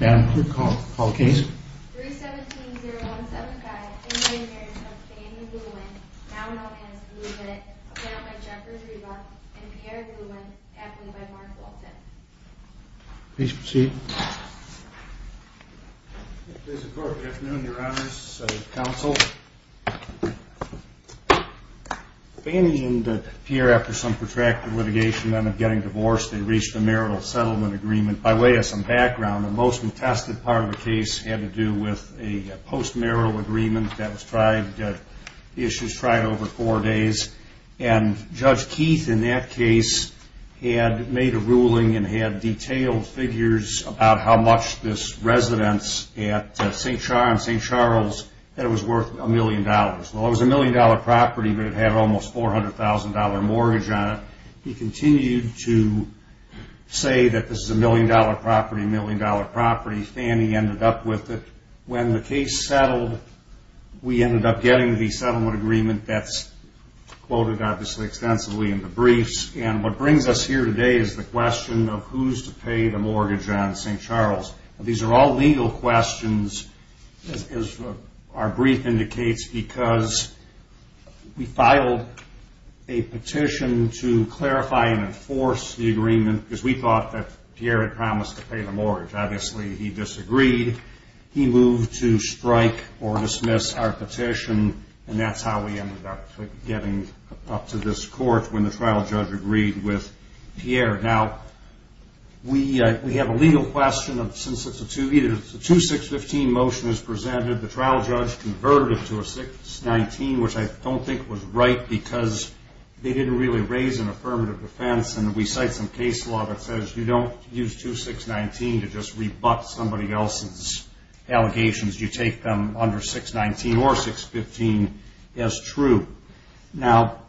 Madam Clerk, call the case. 3-17-0-1-7-5, in the name of Marriage of Fannie Lewin, now an Albanian, is to be admitted. Appointed by Jeffers, Reba, and Pierre Lewin. Appointed by Mark Walton. Please proceed. Mr. Clerk, good afternoon, your honors, council. Fannie and Pierre, after some protracted litigation, ended up getting divorced. They reached a marital settlement agreement. By way of some background, the most contested part of the case had to do with a post-marital agreement that was tried, issues tried over four days. And Judge Keith, in that case, had made a ruling and had detailed figures about how much this residence at St. Charles, that it was worth a million dollars. Well, it was a million dollar property, but it had almost a $400,000 mortgage on it. He continued to say that this is a million dollar property, a million dollar property. Fannie ended up with it. When the case settled, we ended up getting the settlement agreement that's quoted, obviously, extensively in the briefs. And what brings us here today is the question of who's to pay the mortgage on St. Charles. These are all legal questions, as our brief indicates, because we filed a petition to clarify and enforce the agreement, because we thought that Pierre had promised to pay the mortgage. Obviously, he disagreed. He moved to strike or dismiss our petition, and that's how we ended up getting up to this court when the trial judge agreed with Pierre. Now, we have a legal question, since it's a 2-6-15 motion that's presented. The trial judge converted it to a 6-19, which I don't think was right, because they didn't really raise an affirmative defense. And we cite some case law that says you don't use 2-6-19 to just rebut somebody else's allegations. You take them under 6-19 or 6-15 as true. Now,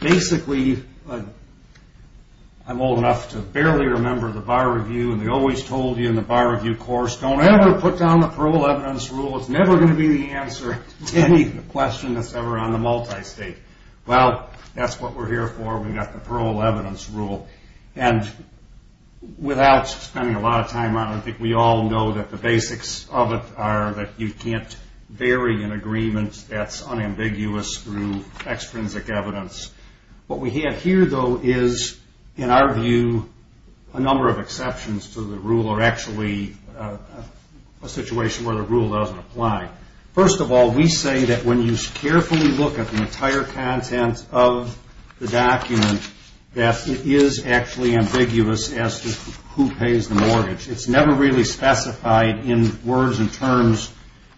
basically, I'm old enough to barely remember the Bar Review, and they always told you in the Bar Review course, don't ever put down the parole evidence rule. It's never going to be the answer to any question that's ever on the multistate. Well, that's what we're here for. We've got the parole evidence rule. And without spending a lot of time on it, I think we all know that the basics of it are that you can't vary an agreement that's unambiguous through extrinsic evidence. What we have here, though, is, in our view, a number of exceptions to the rule are actually a situation where the rule doesn't apply. First of all, we say that when you carefully look at the entire content of the document, that it is actually ambiguous as to who pays the mortgage. It's never really specified in words and terms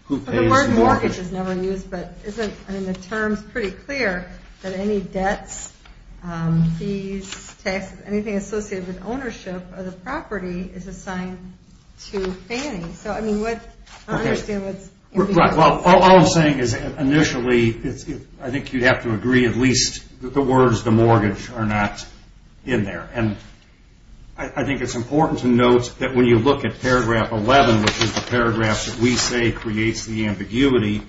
who pays the mortgage. The word mortgage is never used, but the term's pretty clear that any debts, fees, taxes, anything associated with ownership of the property is assigned to Fannie. I don't understand what's ambiguous. All I'm saying is initially, I think you'd have to agree at least that the words the mortgage are not in there. And I think it's important to note that when you look at paragraph 11, which is the paragraph that we say creates the ambiguity,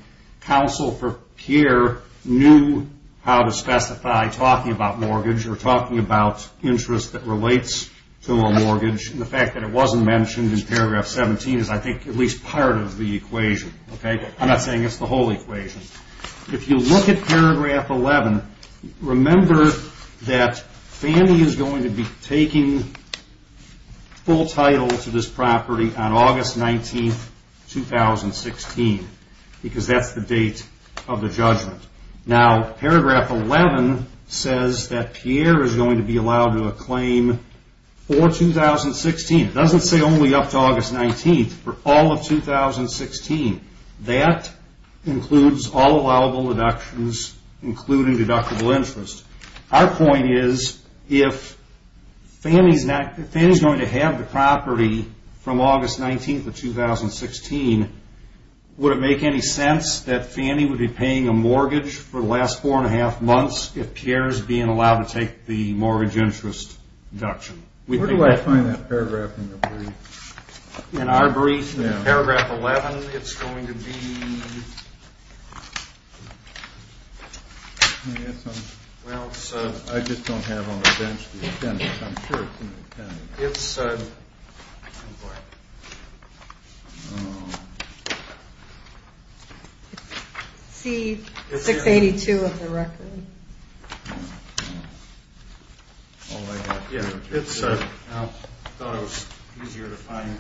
counsel for Pierre knew how to specify talking about mortgage or talking about interest that relates to a mortgage. The fact that it wasn't mentioned in paragraph 17 is, I think, at least part of the equation. I'm not saying it's the whole equation. If you look at paragraph 11, remember that Fannie is going to be taking full title to this property on August 19, 2016, because that's the date of the judgment. Now, paragraph 11 says that Pierre is going to be allowed to acclaim for 2016. It doesn't say only up to August 19, for all of 2016. That includes all allowable deductions, including deductible interest. Our point is, if Fannie is going to have the property from August 19, 2016, would it make any sense that Fannie would be paying a mortgage for the last four and a half months, if Pierre is being allowed to take the mortgage interest deduction? Where do I find that paragraph in the brief? In our brief, in paragraph 11, it's going to be... Well, it's... I just don't have on the bench the attendance. I'm sure it's in the attendance. It's... C-682 of the record. All I have here... I thought it was easier to find.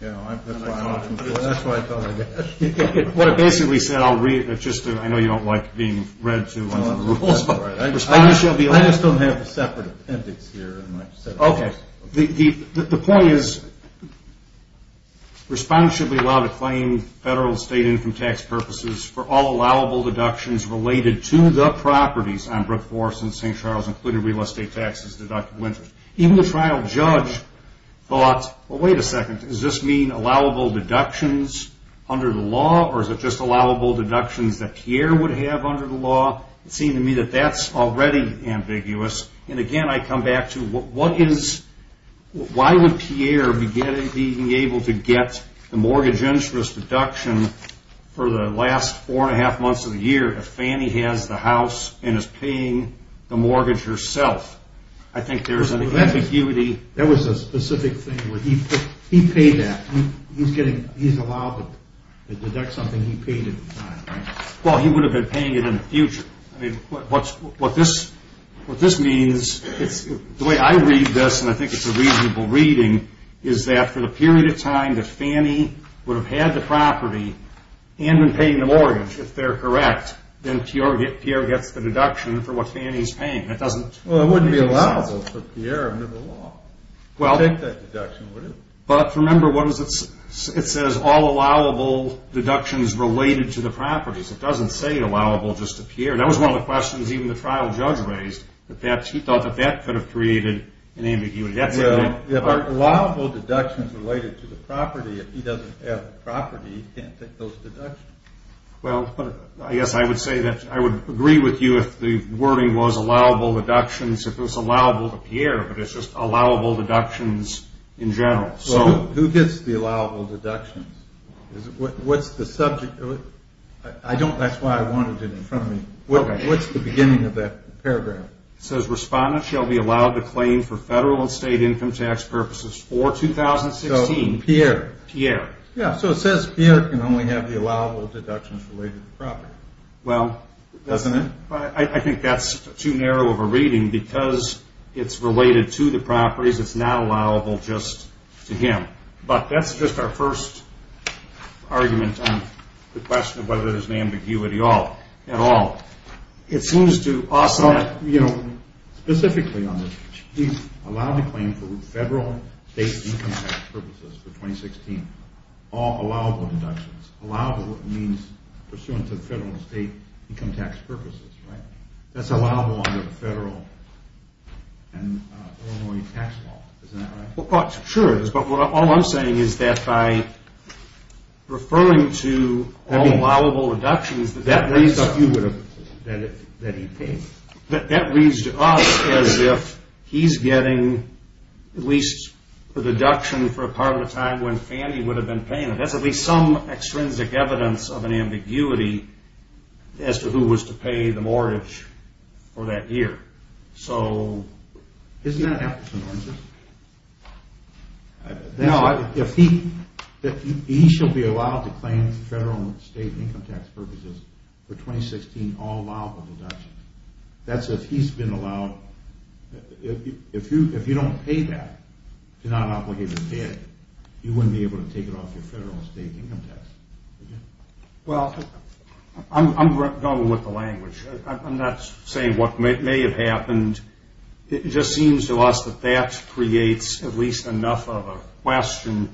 That's why I thought I'd get that. What it basically said, I'll read it. I know you don't like being read to under the rules. I just don't have a separate appendix here in my set of rules. Okay. The point is, respondents should be allowed to claim federal and state income tax purposes for all allowable deductions related to the properties on Brook Forest and St. Charles, including real estate taxes deducted winter. Even the trial judge thought, well, wait a second. Does this mean allowable deductions under the law, or is it just allowable deductions that Pierre would have under the law? It seemed to me that that's already ambiguous. Again, I come back to what is... Why would Pierre be able to get the mortgage interest deduction for the last four and a half months of the year if Fannie has the house and is paying the mortgage herself? I think there's an ambiguity. That was a specific thing where he paid that. He's allowed to deduct something he paid at the time, right? Well, he would have been paying it in the future. I mean, what this means, the way I read this, and I think it's a reasonable reading, is that for the period of time that Fannie would have had the property and been paying the mortgage, if they're correct, then Pierre gets the deduction for what Fannie's paying. That doesn't make sense. Well, it wouldn't be allowable for Pierre under the law. Take that deduction, would it? But remember, it says all allowable deductions related to the properties. It doesn't say allowable just to Pierre. That was one of the questions even the trial judge raised. He thought that that could have created an ambiguity. Well, if allowable deductions related to the property, if he doesn't have the property, he can't take those deductions. Well, I guess I would say that I would agree with you if the wording was allowable deductions if it was allowable to Pierre, but it's just allowable deductions in general. So who gets the allowable deductions? What's the subject? That's why I wanted it in front of me. What's the beginning of that paragraph? It says respondents shall be allowed to claim for federal and state income tax purposes for 2016. So Pierre. Pierre. Yeah, so it says Pierre can only have the allowable deductions related to the property. Well, I think that's too narrow of a reading because it's related to the properties. It's not allowable just to him. But that's just our first argument on the question of whether there's an ambiguity at all. It seems to us that, you know, specifically on this, he's allowed to claim for federal and state income tax purposes for 2016, all allowable deductions, allowable means pursuant to the federal and state income tax purposes, right? That's allowable under the federal and Illinois tax law, isn't that right? Sure it is. But all I'm saying is that by referring to all allowable deductions, that reads to us as if he's getting at least a deduction for a part of the time when Fannie would have been paying it. That's at least some extrinsic evidence of an ambiguity as to who was to pay the mortgage for that year. So, isn't that an abstinence? No, he shall be allowed to claim for federal and state income tax purposes for 2016, all allowable deductions. That's if he's been allowed. If you don't pay that, if you're not an obligated debt, you wouldn't be able to take it off your federal and state income tax. Well, I'm going with the language. I'm not saying what may have happened. It just seems to us that that creates at least enough of a question.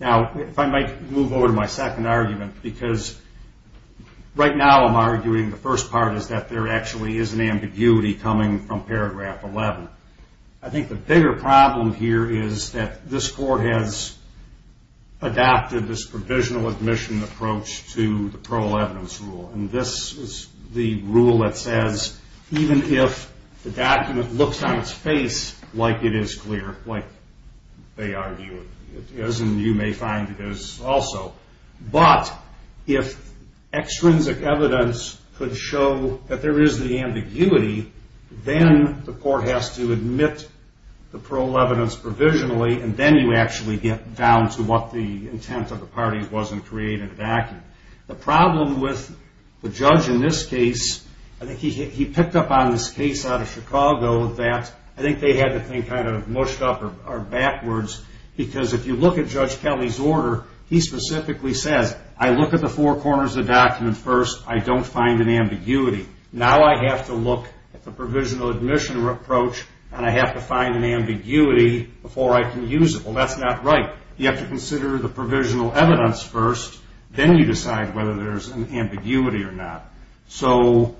Now, if I might move over to my second argument, because right now I'm arguing the first part is that there actually is an ambiguity coming from paragraph 11. I think the bigger problem here is that this court has adopted this provisional admission approach to the parole evidence rule, and this is the rule that says even if the document looks on its face like it is clear, like they argue it is, and you may find it is also, but if extrinsic evidence could show that there is the ambiguity, then the court has to admit the parole evidence provisionally, and then you actually get down to what the intent of the parties was in creating the document. The problem with the judge in this case, I think he picked up on this case out of Chicago that I think they had the thing kind of mushed up or backwards, because if you look at Judge Kelly's order, he specifically says I look at the four corners of the document first, I don't find an ambiguity. Now I have to look at the provisional admission approach, and I have to find an ambiguity before I can use it. Well, that's not right. You have to consider the provisional evidence first, then you decide whether there's an ambiguity or not. So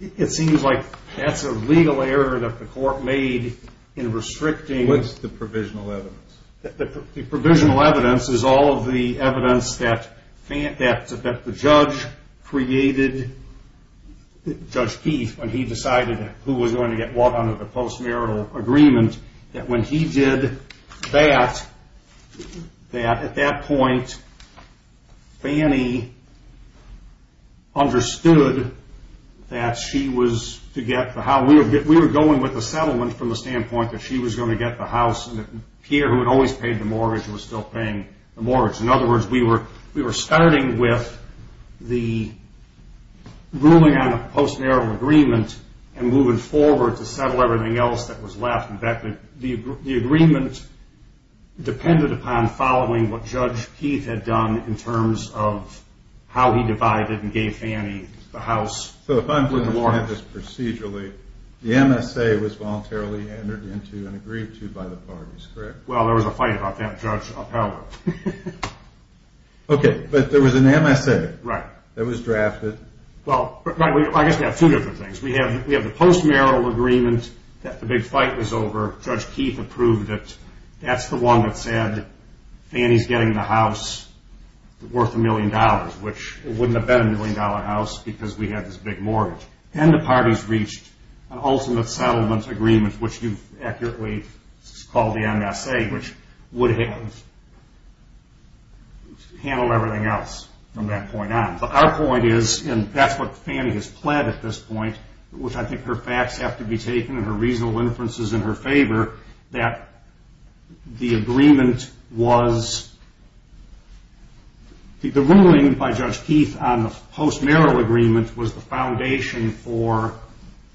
it seems like that's a legal error that the court made in restricting. What's the provisional evidence? The provisional evidence is all of the evidence that the judge created, Judge Keith, when he decided who was going to get brought under the post-marital agreement, that when he did that, that at that point, Fannie understood that she was to get the house. We were going with the settlement from the standpoint that she was going to get the house and that Pierre, who had always paid the mortgage, was still paying the mortgage. In other words, we were starting with the ruling on the post-marital agreement and moving forward to settle everything else that was left. In fact, the agreement depended upon following what Judge Keith had done in terms of how he divided and gave Fannie the house. So if I understand this procedurally, the MSA was voluntarily entered into and agreed to by the parties, correct? Well, there was a fight about that, Judge Appell. Okay. But there was an MSA that was drafted. Well, I guess we have two different things. We have the post-marital agreement that the big fight was over. Judge Keith approved it. That's the one that said Fannie's getting the house worth a million dollars, which it wouldn't have been a million-dollar house because we had this big mortgage. Then the parties reached an ultimate settlement agreement, which you've accurately called the MSA, which would have handled everything else from that point on. But our point is, and that's what Fannie has pled at this point, which I think her facts have to be taken and her reasonable inferences in her favor, that the agreement was the ruling by Judge Keith on the post-marital agreement was the foundation for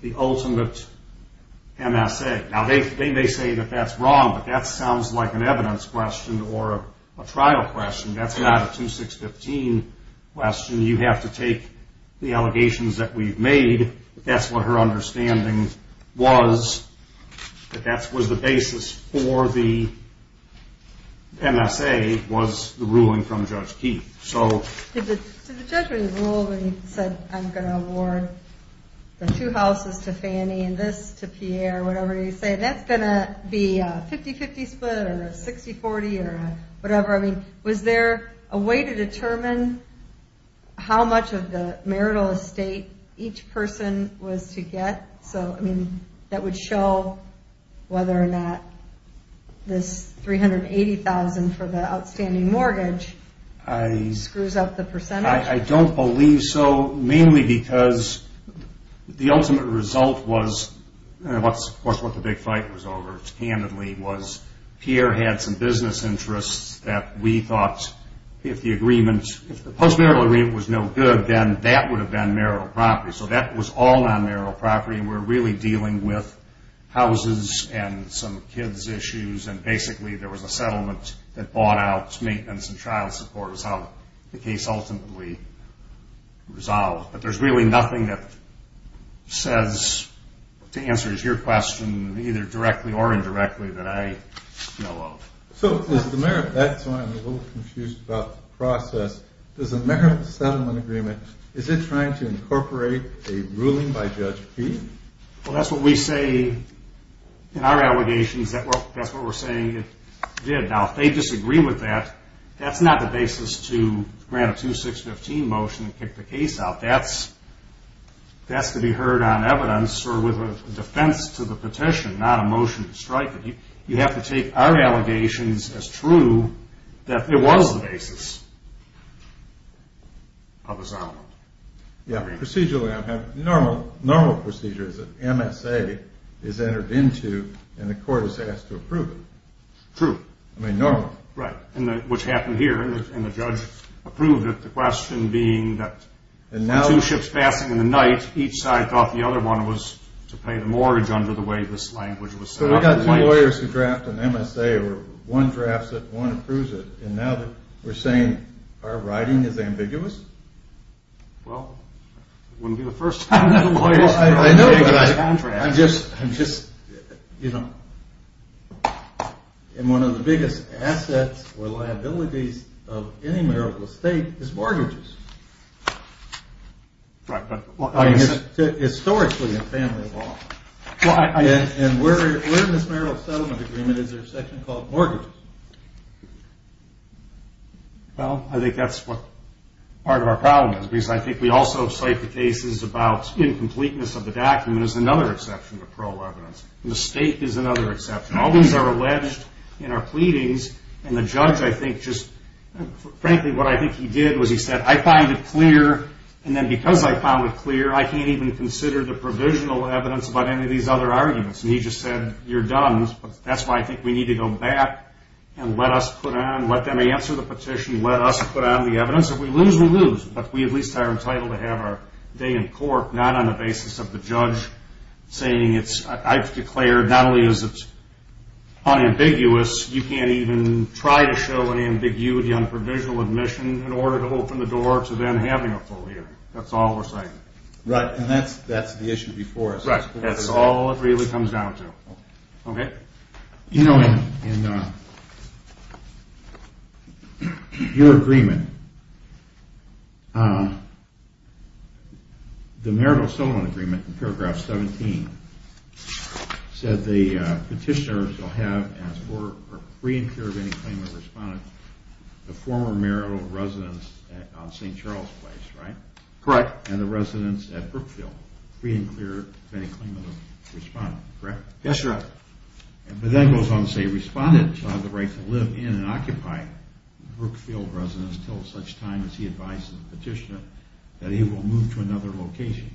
the ultimate MSA. Now, they may say that that's wrong, but that sounds like an evidence question or a trial question. That's not a 2-6-15 question. You have to take the allegations that we've made. That's what her understanding was, that that was the basis for the MSA was the ruling from Judge Keith. Did the judge rule when he said, I'm going to award the two houses to Fannie and this to Pierre, whatever he said, that's going to be a 50-50 split or a 60-40 or whatever? Was there a way to determine how much of the marital estate each person was to get that would show whether or not this $380,000 for the outstanding mortgage screws up the percentage? I don't believe so, mainly because the ultimate result was, and that's of course what the big fight was over, was Pierre had some business interests that we thought if the agreement, if the post-marital agreement was no good, then that would have been marital property. So that was all non-marital property, and we're really dealing with houses and some kids' issues, and basically there was a settlement that bought out maintenance and child support is how the case ultimately resolved. But there's really nothing that says, to answer your question, either directly or indirectly that I know of. So is the marital, that's why I'm a little confused about the process, does the marital settlement agreement, is it trying to incorporate a ruling by Judge Peay? Well, that's what we say in our allegations, that's what we're saying it did. Now, if they disagree with that, that's not the basis to grant a 2-6-15 motion and kick the case out. That's to be heard on evidence, or with a defense to the petition, not a motion to strike it. You have to take our allegations as true, that it was the basis of the settlement. Yeah, procedurally, I have normal procedures that MSA is entered into, and the court is asked to approve it. True. I mean, normal. Right, which happened here, and the judge approved it, but the question being that two ships passing in the night, each side thought the other one was to pay the mortgage under the way this language was set up. So we've got two lawyers who draft an MSA, or one drafts it, one approves it, and now we're saying our writing is ambiguous? Well, it wouldn't be the first time that lawyers... I know, but I'm just, you know... And one of the biggest assets or liabilities of any marital estate is mortgages. Right, but... Historically, in family law. And where in this marital settlement agreement is there a section called mortgages? Well, I think that's what part of our problem is, because I think we also cite the cases about incompleteness of the document as another exception to parole evidence, and the state is another exception. All these are alleged in our pleadings, and the judge, I think, just... Frankly, what I think he did was he said, I find it clear, and then because I found it clear, I can't even consider the provisional evidence about any of these other arguments. And he just said, you're dumb, but that's why I think we need to go back and let us put on... let them answer the petition, let us put on the evidence. If we lose, we lose. But we at least are entitled to have our day in court not on the basis of the judge saying it's... I've declared not only is it unambiguous, you can't even try to show an ambiguity on provisional admission in order to open the door to them having a full hearing. That's all we're citing. Right, and that's the issue before us. Right, that's all it really comes down to. Okay? You know, in... your agreement, the marital settlement agreement in paragraph 17 said the petitioner shall have, as for free and clear of any claim of a respondent, the former marital residence on St. Charles Place, right? Correct. And the residence at Brookfield, free and clear of any claim of a respondent, correct? Yes, sir. But then it goes on to say, respondent shall have the right to live in and occupy Brookfield residence till such time as he advises the petitioner that he will move to another location.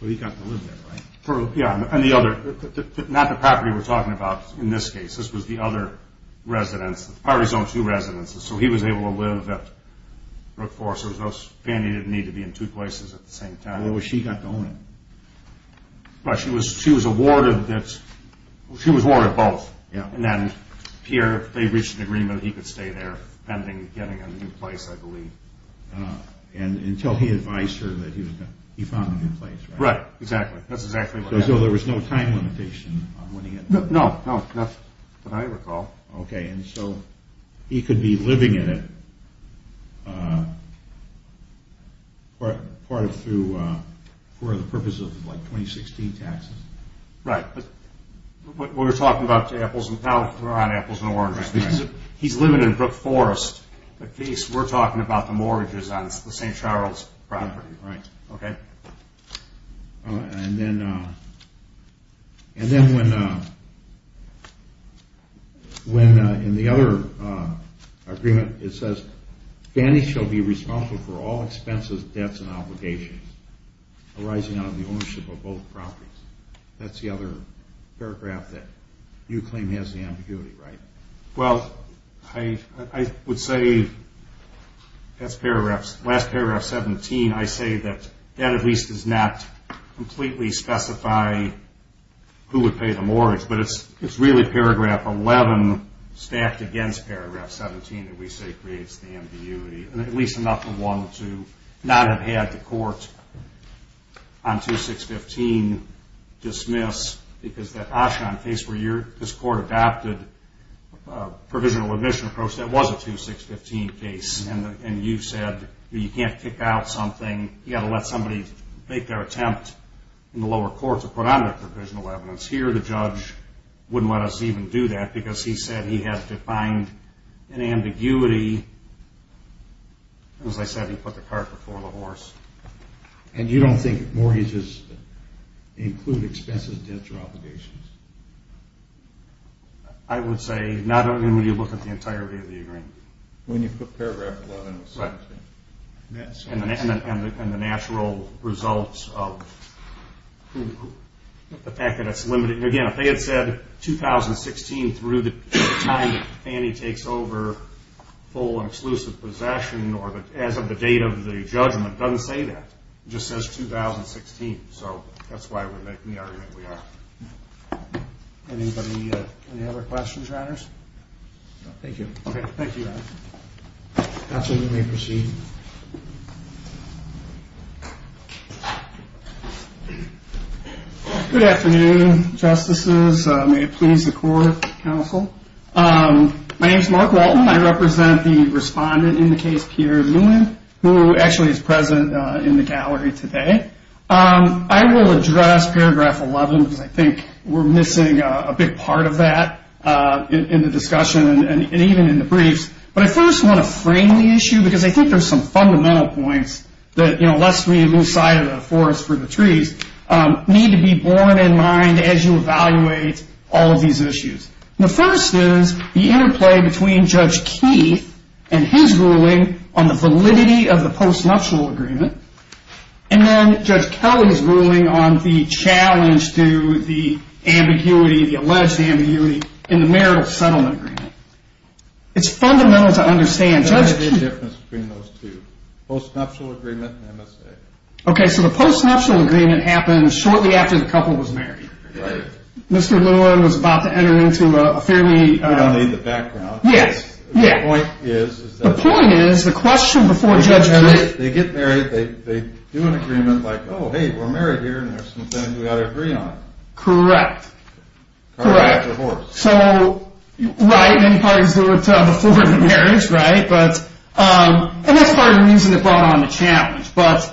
So he got to live there, right? Yeah, and the other... not the property we're talking about in this case. This was the other residence. The party's own two residences. So he was able to live at Brookfield. So Fannie didn't need to be in two places at the same time. Well, she got to own it. Right, she was awarded both. And then here they reached an agreement that he could stay there pending getting a new place, I believe. And until he advised her that he found a new place, right? Right, exactly. That's exactly what happened. So there was no time limitation on winning it? No, not that I recall. Okay, and so he could be living in it for the purpose of, like, 2016 taxes? Right, but we're talking about apples and... no, we're not on apples and oranges. He's living in Brook Forest. In this case, we're talking about the mortgages on the St. Charles property. Right. Okay. And then when, in the other agreement, it says, Fannie shall be responsible for all expenses, debts, and obligations arising out of the ownership of both properties. That's the other paragraph that you claim has the ambiguity, right? Well, I would say that's paragraph 17. I say that that at least does not completely specify who would pay the mortgage, but it's really paragraph 11 stacked against paragraph 17 that we say creates the ambiguity, and at least enough for one to not have had the court on 2615 dismiss because that Oshon case where this court adopted a provisional admission approach, that was a 2615 case, and you said you can't kick out something. You've got to let somebody make their attempt in the lower court to put on their provisional evidence. Here, the judge wouldn't let us even do that because he said he had to find an ambiguity. As I said, he put the cart before the horse. And you don't think mortgages include expenses, debts, or obligations? I would say not only when you look at the entirety of the agreement. When you put paragraph 11 with 17. And the natural results of the fact that it's limited. Again, if they had said 2016 through the time that Fannie takes over full and exclusive possession or as of the date of the judgment, it doesn't say that. It just says 2016, so that's why we're making the argument we are. Anybody have any other questions or honors? Thank you. Okay, thank you. Counsel, you may proceed. Good afternoon, justices. May it please the court, counsel. My name is Mark Walton. I represent the respondent in the case, Peter Muin, who actually is present in the gallery today. I will address paragraph 11 because I think we're missing a big part of that in the discussion and even in the briefs. But I first want to frame the issue because I think there's some fundamental points that, you know, lest we lose sight of the forest for the trees, need to be borne in mind as you evaluate all of these issues. The first is the interplay between Judge Keith and his ruling on the validity of the post-nuptial agreement. And then Judge Kelly's ruling on the challenge to the ambiguity, the alleged ambiguity in the marital settlement agreement. It's fundamental to understand. What's the difference between those two, post-nuptial agreement and MSA? Okay, so the post-nuptial agreement happened shortly after the couple was married. Right. Mr. Muin was about to enter into a fairly... We don't need the background. Yes, yes. The point is, is that... The point is, the question before Judge Keith... They get married, they do an agreement like, oh, hey, we're married here and there's something we ought to agree on. Correct. Correct. So, right, many parties do it before the marriage, right? And that's part of the reason it brought on the challenge. But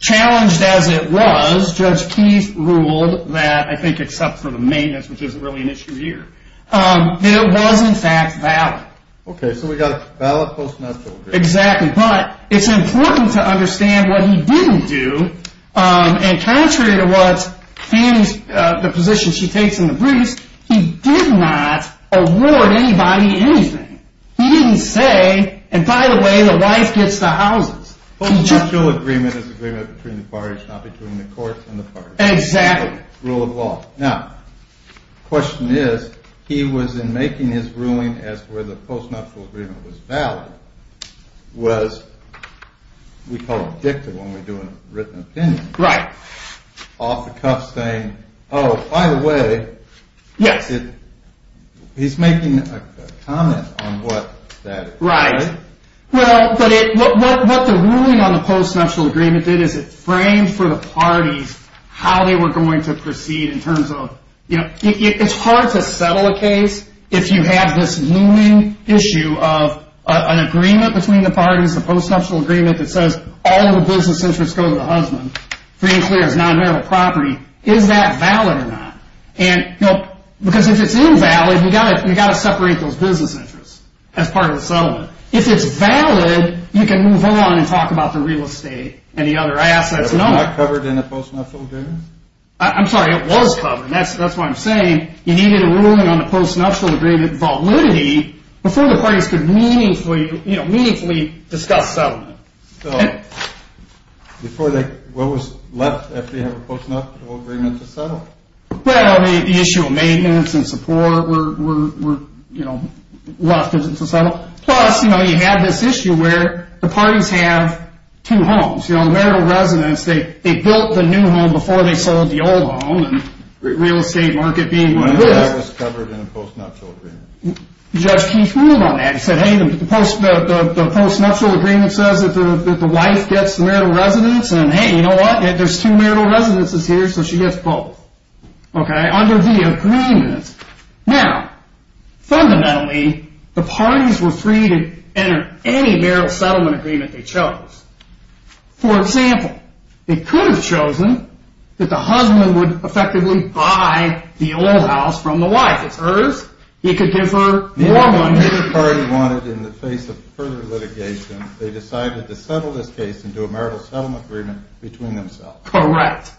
challenged as it was, Judge Keith ruled that, I think except for the maintenance, which isn't really an issue here, it was in fact valid. Okay, so we got a valid post-nuptial agreement. Exactly. But it's important to understand what he didn't do. And contrary to the position she takes in the briefs, he did not award anybody anything. He didn't say, and by the way, the wife gets the houses. Post-nuptial agreement is agreement between the parties, not between the courts and the parties. Exactly. Rule of law. Now, the question is, he was in making his ruling as to whether the post-nuptial agreement was valid, was we call it objective when we do a written opinion. Right. Off the cuff saying, oh, by the way. Yes. He's making a comment on what that is. Right. Well, what the ruling on the post-nuptial agreement did is it framed for the parties how they were going to proceed in terms of, you know, it's hard to settle a case if you have this looming issue of an agreement between the parties, a post-nuptial agreement that says all the business interests go to the husband, being clear it's non-marital property. Is that valid or not? And, you know, because if it's invalid, you've got to separate those business interests as part of the settlement. If it's valid, you can move on and talk about the real estate and the other assets. It's not covered in the post-nuptial agreement? I'm sorry. It was covered. That's what I'm saying. You needed a ruling on the post-nuptial agreement validity before the parties could meaningfully discuss settlement. So what was left after you had a post-nuptial agreement to settle? Well, the issue of maintenance and support were left to settle. Plus, you know, you have this issue where the parties have two homes. You know, the marital residence, they built the new home before they sold the old home, and the real estate market being what it is. But that was covered in a post-nuptial agreement. Judge Keith ruled on that. He said, hey, the post-nuptial agreement says that the wife gets the marital residence, and, hey, you know what? There's two marital residences here, so she gets both. Okay? Under the agreement. For example, they could have chosen that the husband would effectively buy the old house from the wife. It's hers. He could give her more money. Correct.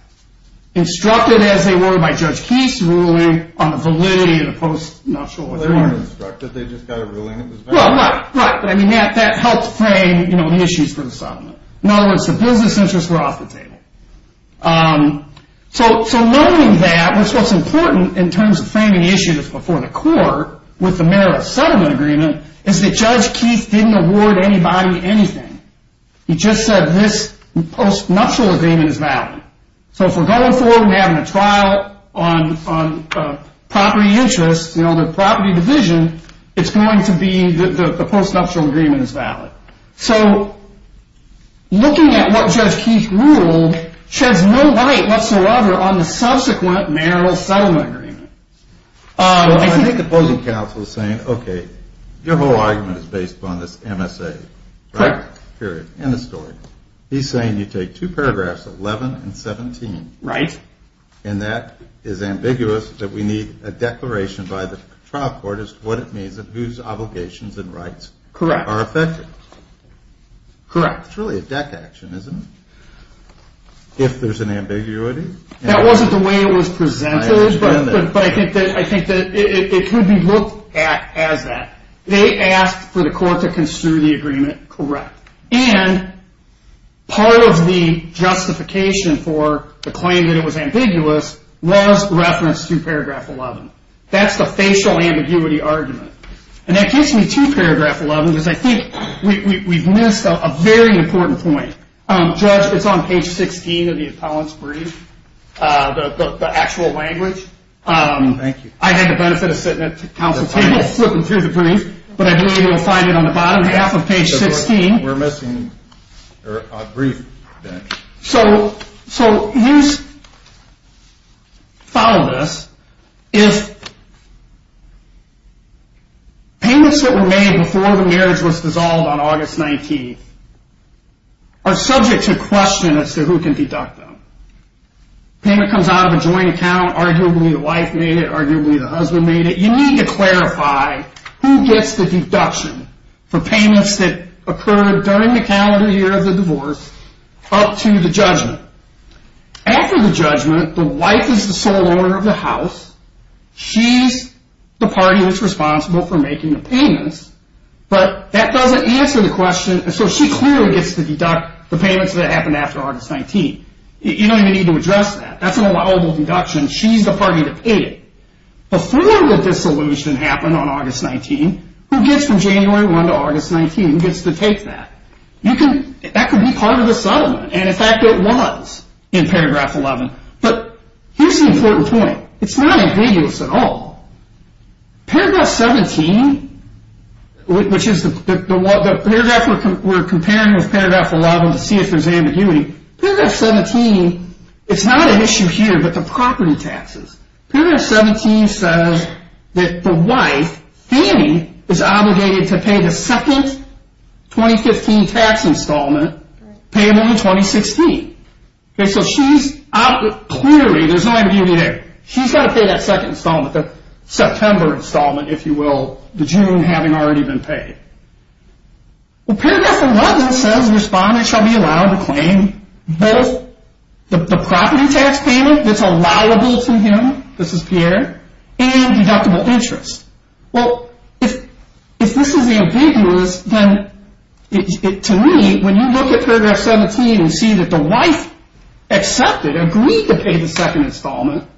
Instructed as they were by Judge Keith's ruling on the validity of the post-nuptial agreement. Well, they weren't instructed. They just got a ruling. Well, right, right. But, I mean, that helped frame, you know, the issues for the settlement. In other words, the business interests were off the table. So knowing that, which is what's important in terms of framing issues before the court with the marital settlement agreement, is that Judge Keith didn't award anybody anything. He just said this post-nuptial agreement is valid. So if we're going forward and we're having a trial on property interests, you know, the property division, it's going to be the post-nuptial agreement is valid. So looking at what Judge Keith ruled sheds no light whatsoever on the subsequent marital settlement agreement. I think the opposing counsel is saying, okay, your whole argument is based upon this MSA. Correct. Period. End of story. He's saying you take two paragraphs, 11 and 17. Right. And that is ambiguous that we need a declaration by the trial court as to what it means and whose obligations and rights are affected. Correct. Correct. It's really a deck action, isn't it? If there's an ambiguity. That wasn't the way it was presented. I understand that. But I think that it could be looked at as that. They asked for the court to construe the agreement. Correct. And part of the justification for the claim that it was ambiguous was referenced through paragraph 11. That's the facial ambiguity argument. And that gets me to paragraph 11 because I think we've missed a very important point. Judge, it's on page 16 of the appellant's brief, the actual language. Thank you. I had the benefit of sitting at counsel's table flipping through the brief, but I believe you'll find it on the bottom half of page 16. We're missing a brief then. So follow this. If payments that were made before the marriage was dissolved on August 19th are subject to question as to who can deduct them. Payment comes out of a joint account. Arguably the wife made it. Arguably the husband made it. You need to clarify who gets the deduction for payments that occurred during the calendar year of the divorce up to the judgment. After the judgment, the wife is the sole owner of the house. She's the party that's responsible for making the payments. But that doesn't answer the question. So she clearly gets to deduct the payments that happened after August 19th. You don't even need to address that. That's an allowable deduction. She's the party to pay it. Before the dissolution happened on August 19th, who gets from January 1 to August 19, who gets to take that? That could be part of the settlement. And, in fact, it was in paragraph 11. But here's the important point. It's not ambiguous at all. Paragraph 17, which is the paragraph we're comparing with paragraph 11 to see if there's ambiguity. Paragraph 17, it's not an issue here but the property taxes. Paragraph 17 says that the wife, Fannie, is obligated to pay the second 2015 tax installment, payable in 2016. Okay, so she's clearly, there's no ambiguity there. She's got to pay that second installment, the September installment, if you will, the June having already been paid. Well, paragraph 11 says, the claim both the property tax payment that's allowable to him, this is Pierre, and deductible interest. Well, if this is ambiguous, then to me, when you look at paragraph 17 and see that the wife accepted, agreed to pay the second installment,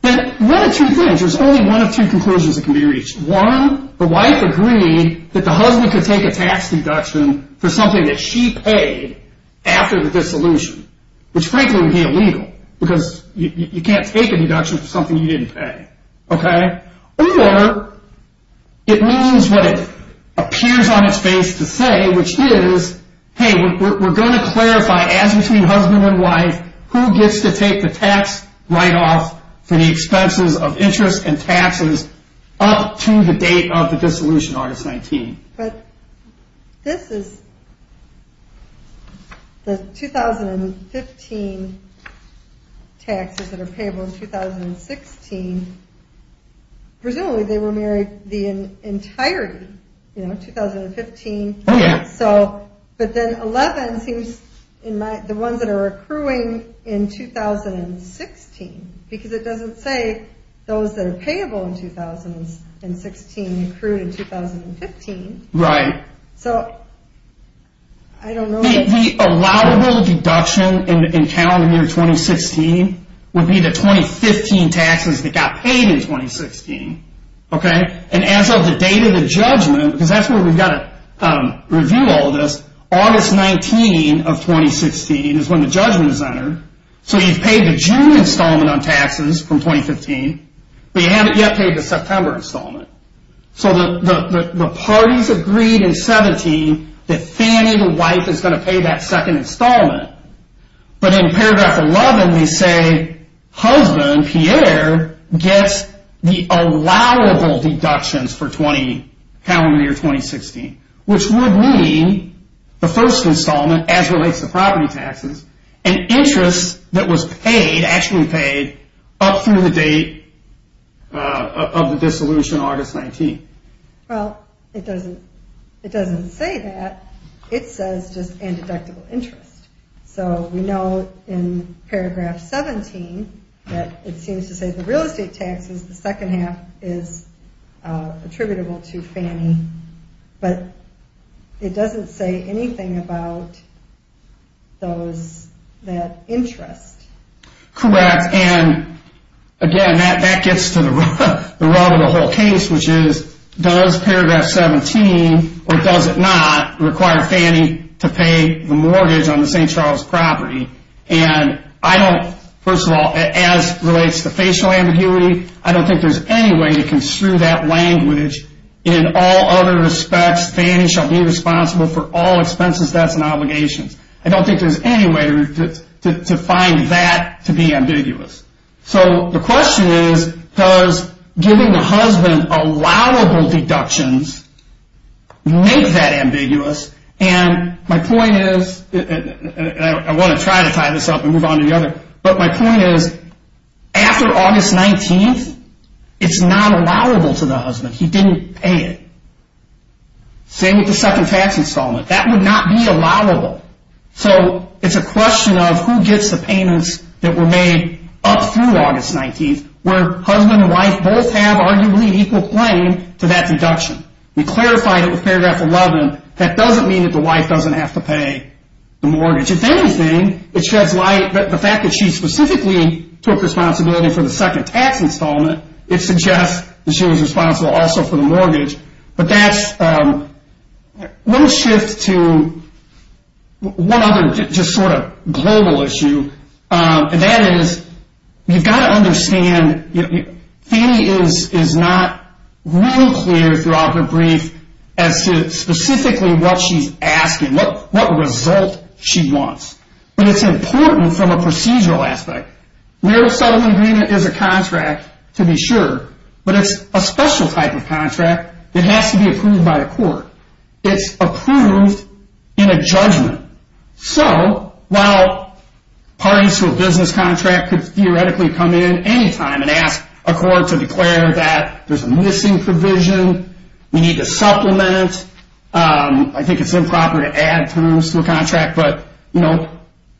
then one of two things, there's only one of two conclusions that can be reached. One, the wife agreed that the husband could take a tax deduction for something that she paid after the dissolution, which frankly would be illegal because you can't take a deduction for something you didn't pay, okay? Or it means what it appears on its face to say, which is, hey, we're going to clarify, as between husband and wife, who gets to take the tax write-off for the expenses of interest and taxes up to the date of the dissolution, Artist 19. But this is the 2015 taxes that are payable in 2016. Presumably they were married in entirety, you know, 2015. Oh, yeah. But then 11 seems, the ones that are accruing in 2016, because it doesn't say those that are payable in 2016 accrued in 2015. Right. So I don't know. The allowable deduction in calendar year 2016 would be the 2015 taxes that got paid in 2016, okay? And as of the date of the judgment, because that's where we've got to review all this, August 19 of 2016 is when the judgment is entered. So you've paid the June installment on taxes from 2015, but you haven't yet paid the September installment. So the parties agreed in 17 that Fannie, the wife, is going to pay that second installment. But in paragraph 11 we say husband, Pierre, gets the allowable deductions for calendar year 2016, which would mean the first installment, as relates to property taxes, and interest that was paid, actually paid, up through the date of the dissolution, August 19. Well, it doesn't say that. It says just and deductible interest. So we know in paragraph 17 that it seems to say the real estate taxes, the second half is attributable to Fannie, but it doesn't say anything about that interest. Correct. And, again, that gets to the rub of the whole case, which is does paragraph 17, or does it not, require Fannie to pay the mortgage on the St. Charles property? And I don't, first of all, as relates to facial ambiguity, I don't think there's any way to construe that language in all other respects. Fannie shall be responsible for all expenses, debts, and obligations. I don't think there's any way to find that to be ambiguous. So the question is does giving the husband allowable deductions make that ambiguous? And my point is, and I want to try to tie this up and move on to the other, but my point is after August 19th, it's not allowable to the husband. He didn't pay it. Same with the second tax installment. That would not be allowable. So it's a question of who gets the payments that were made up through August 19th, where husband and wife both have arguably equal claim to that deduction. We clarified it with paragraph 11. That doesn't mean that the wife doesn't have to pay the mortgage. But if anything, the fact that she specifically took responsibility for the second tax installment, it suggests that she was responsible also for the mortgage. But that's one shift to one other just sort of global issue, and that is you've got to understand Fannie is not really clear throughout her brief as to specifically what she's asking, what result she wants. But it's important from a procedural aspect. Marriage settlement agreement is a contract to be sure, but it's a special type of contract that has to be approved by the court. It's approved in a judgment. So while parties to a business contract could theoretically come in any time and ask a court to declare that there's a missing provision, we need to supplement, I think it's improper to add terms to a contract, but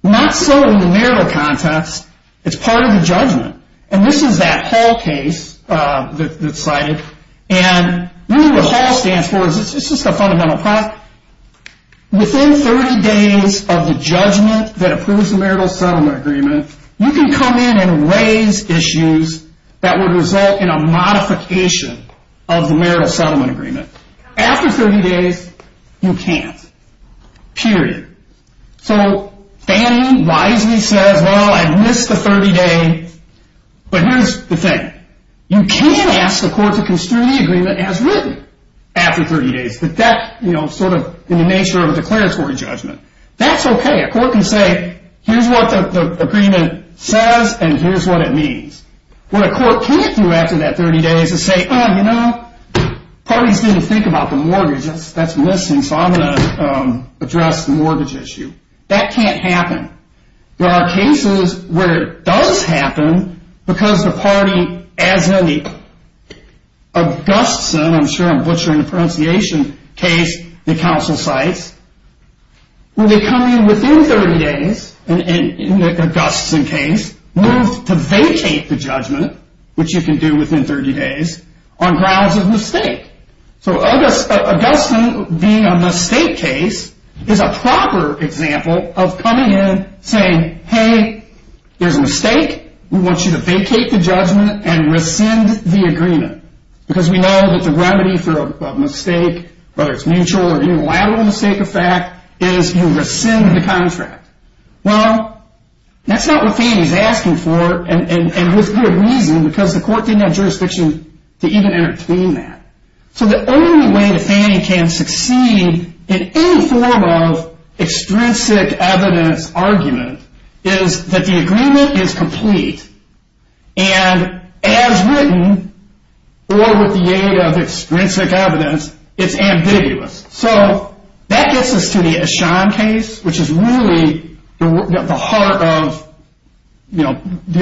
not so in the marital context. It's part of the judgment. And this is that HALL case that's cited, and really what HALL stands for is it's just a fundamental part. Within 30 days of the judgment that approves the marital settlement agreement, you can come in and raise issues that would result in a modification of the marital settlement agreement. After 30 days, you can't, period. So Fannie wisely says, well, I missed the 30-day, but here's the thing. You can ask the court to construe the agreement as written after 30 days, but that's sort of in the nature of a declaratory judgment. That's okay. A court can say, here's what the agreement says, and here's what it means. What a court can't do after that 30 days is say, oh, you know, parties didn't think about the mortgage. That's missing, so I'm going to address the mortgage issue. That can't happen. There are cases where it does happen because the party, as in the Augustson, I'm sure I'm butchering the pronunciation, case the counsel cites, when they come in within 30 days, in the Augustson case, move to vacate the judgment, which you can do within 30 days, on grounds of mistake. So Augustson, being a mistake case, is a proper example of coming in, saying, hey, there's a mistake. We want you to vacate the judgment and rescind the agreement because we know that the remedy for a mistake, whether it's mutual or unilateral mistake effect, is you rescind the contract. Well, that's not what Fannie's asking for and with good reason because the court didn't have jurisdiction to even intervene that. So the only way that Fannie can succeed in any form of extrinsic evidence argument is that the agreement is complete and, as written, or with the aid of extrinsic evidence, it's ambiguous. So that gets us to the Eshan case, which is really the heart of the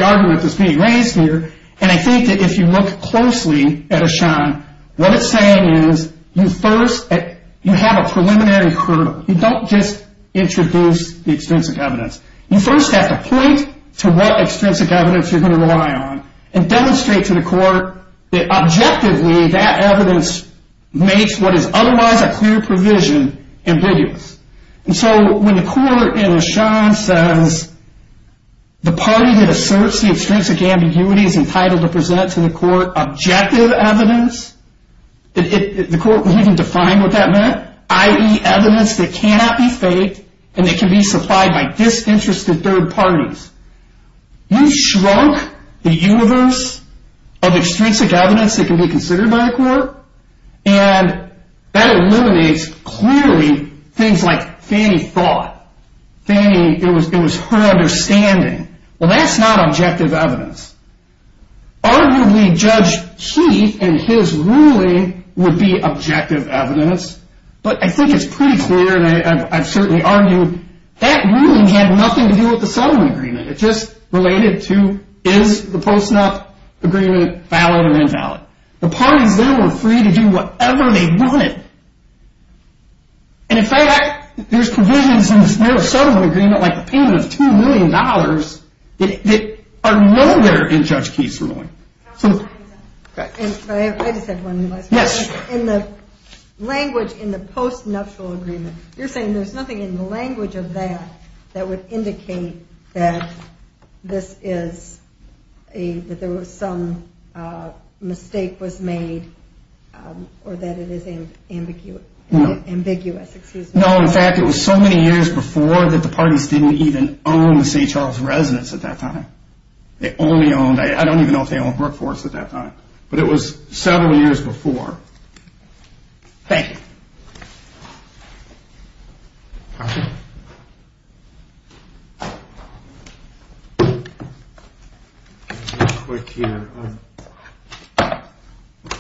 argument that's being raised here, and I think that if you look closely at Eshan, what it's saying is you have a preliminary hurdle. You don't just introduce the extrinsic evidence. You first have to point to what extrinsic evidence you're going to rely on and demonstrate to the court that, objectively, that evidence makes what is otherwise a clear provision ambiguous. And so when the court in Eshan says the party that asserts the extrinsic ambiguity is entitled to present to the court objective evidence, the court can even define what that meant, i.e. evidence that cannot be faked and that can be supplied by disinterested third parties. You shrunk the universe of extrinsic evidence that can be considered by the court and that eliminates, clearly, things like Fannie thought. Fannie, it was her understanding. Well, that's not objective evidence. Arguably, Judge Heath and his ruling would be objective evidence, but I think it's pretty clear, and I've certainly argued, that ruling had nothing to do with the settlement agreement. It's just related to is the post-snuff agreement valid or invalid. The parties there were free to do whatever they wanted. And, in fact, there's provisions in the federal settlement agreement, like the payment of $2 million, that are nowhere in Judge Keith's ruling. I just have one last question. Yes. In the language in the post-nuptial agreement, you're saying there's nothing in the language of that that would indicate that there was some mistake was made or that it is ambiguous. No, in fact, it was so many years before that the parties didn't even own the St. Charles residence at that time. They only owned, I don't even know if they owned Brook Forest at that time, but it was several years before. Thank you.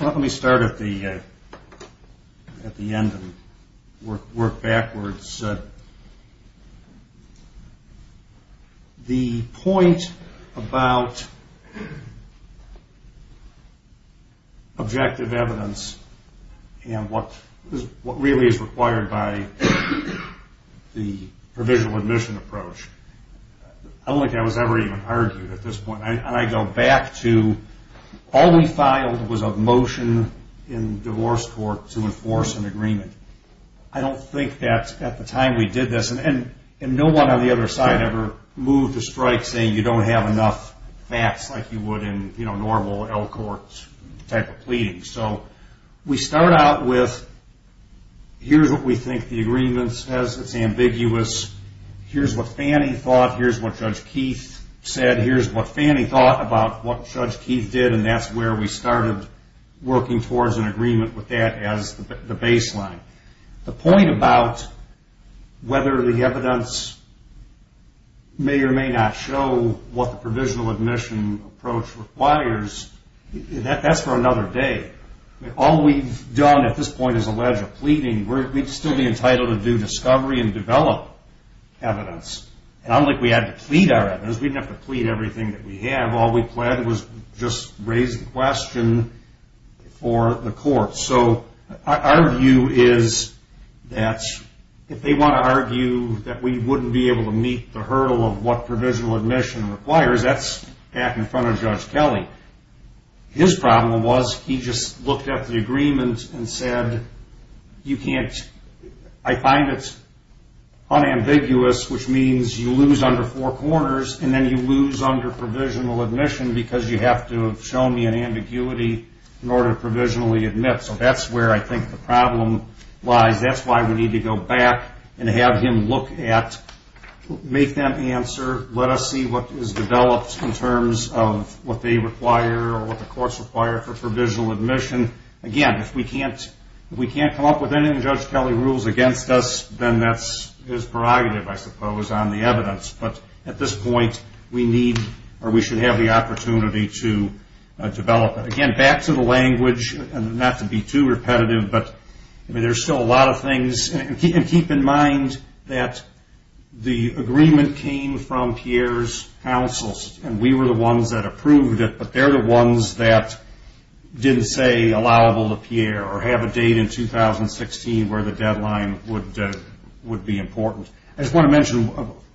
Let me start at the end and work backwards. The point about objective evidence and what really is required by the provisional admission approach, I don't think that was ever even argued at this point. And I go back to all we filed was a motion in divorce court to enforce an agreement. I don't think that at the time we did this, and no one on the other side ever moved a strike saying you don't have enough facts like you would in normal L court type of pleadings. So we start out with here's what we think the agreement says that's ambiguous. Here's what Fannie thought. Here's what Judge Keith said. Here's what Fannie thought about what Judge Keith did, and that's where we started working towards an agreement with that as the baseline. The point about whether the evidence may or may not show what the provisional admission approach requires, that's for another day. All we've done at this point is allege a pleading. We'd still be entitled to do discovery and develop evidence. Unlike we had to plead our evidence, we didn't have to plead everything that we had. All we pled was just raise the question for the court. So our view is that if they want to argue that we wouldn't be able to meet the hurdle of what provisional admission requires, that's back in front of Judge Kelly. His problem was he just looked at the agreement and said you can't. I find it unambiguous, which means you lose under four corners, and then you lose under provisional admission because you have to have shown me an ambiguity in order to provisionally admit. So that's where I think the problem lies. That's why we need to go back and have him look at, make them answer, let us see what is developed in terms of what they require or what the courts require for provisional admission. Again, if we can't come up with any of Judge Kelly's rules against us, then that is prerogative, I suppose, on the evidence. But at this point, we need or we should have the opportunity to develop it. Again, back to the language, not to be too repetitive, but there's still a lot of things. And keep in mind that the agreement came from Pierre's counsels, and we were the ones that approved it, but they're the ones that didn't say allowable to Pierre or have a date in 2016 where the deadline would be important. I just want to mention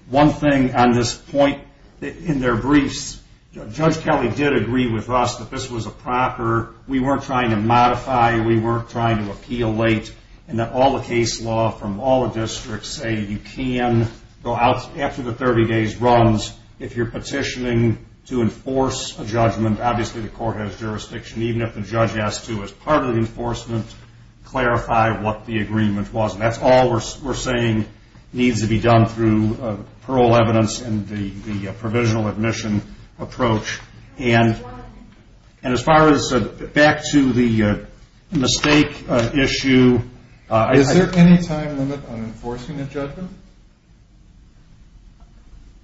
one thing on this point. In their briefs, Judge Kelly did agree with us that this was a proper, we weren't trying to modify, we weren't trying to appeal late, and that all the case law from all the districts say you can go out after the 30 days runs if you're petitioning to enforce a judgment. Obviously, the court has jurisdiction. Even if the judge has to, as part of the enforcement, clarify what the agreement was. That's all we're saying needs to be done through parole evidence and the provisional admission approach. And as far as back to the mistake issue... Is there any time limit on enforcing a judgment?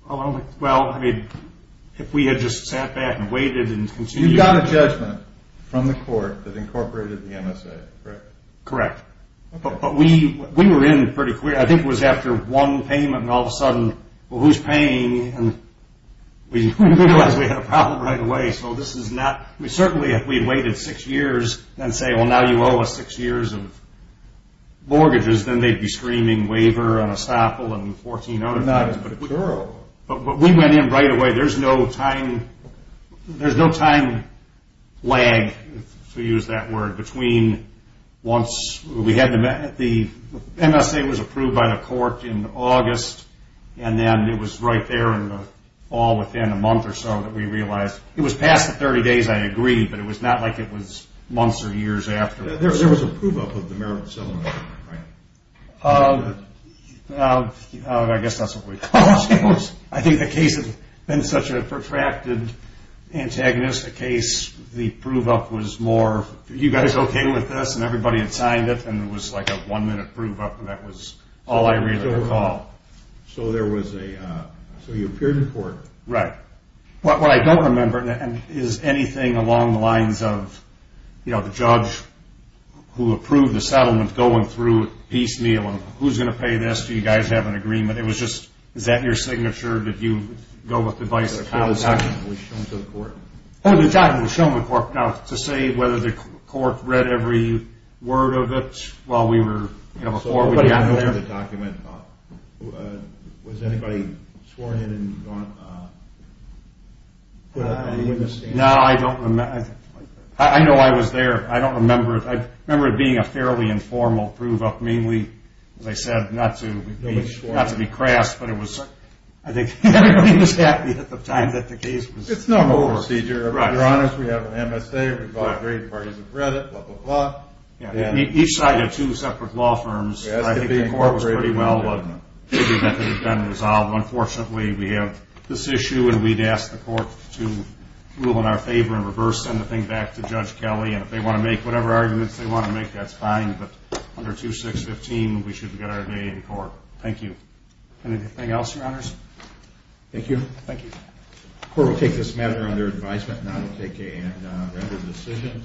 Well, I mean, if we had just sat back and waited and continued... You got a judgment from the court that incorporated the MSA, correct? Correct. But we were in pretty quick. I think it was after one payment and all of a sudden, well, who's paying? And we realized we had a problem right away. So this is not... Certainly, if we'd waited six years and say, well, now you owe us six years of mortgages, then they'd be screaming waiver and estoppel and 14 other things. But we went in right away. There's no time lag, to use that word, between once... The MSA was approved by the court in August, and then it was right there all within a month or so that we realized... It was past the 30 days, I agree, but it was not like it was months or years after. There was a prove-up of the marriage settlement, right? I guess that's what we called it. I think the case had been such a protracted, antagonistic case, the prove-up was more, are you guys okay with this? And everybody had signed it and it was like a one-minute prove-up and that was all I really recall. So there was a... So you appeared in court. Right. What I don't remember is anything along the lines of the judge who approved the settlement going through piecemeal and who's going to pay this, do you guys have an agreement? It was just, is that your signature? Did you go with the vice counsel? The judge was shown to the court. Oh, the judge was shown to the court. Now to say whether the court read every word of it while we were... Was anybody sworn in and put up any witness standings? No, I don't remember. I know I was there. I don't remember it. I remember it being a fairly informal prove-up. Mainly, as I said, not to be crass, but it was... I think everybody was happy at the time that the case was over. It's normal procedure. If I'm honest, we have an MSA, we've got great parties of credit, blah, blah, blah. Each side had two separate law firms. I think the court was pretty well... Unfortunately, we have this issue, and we'd ask the court to rule in our favor and reverse-send the thing back to Judge Kelly, and if they want to make whatever arguments they want to make, that's fine. But under 2615, we should get our day in court. Thank you. Anything else, your honors? Thank you. Thank you. The court will take this matter under advisement, and I will take a rendered decision.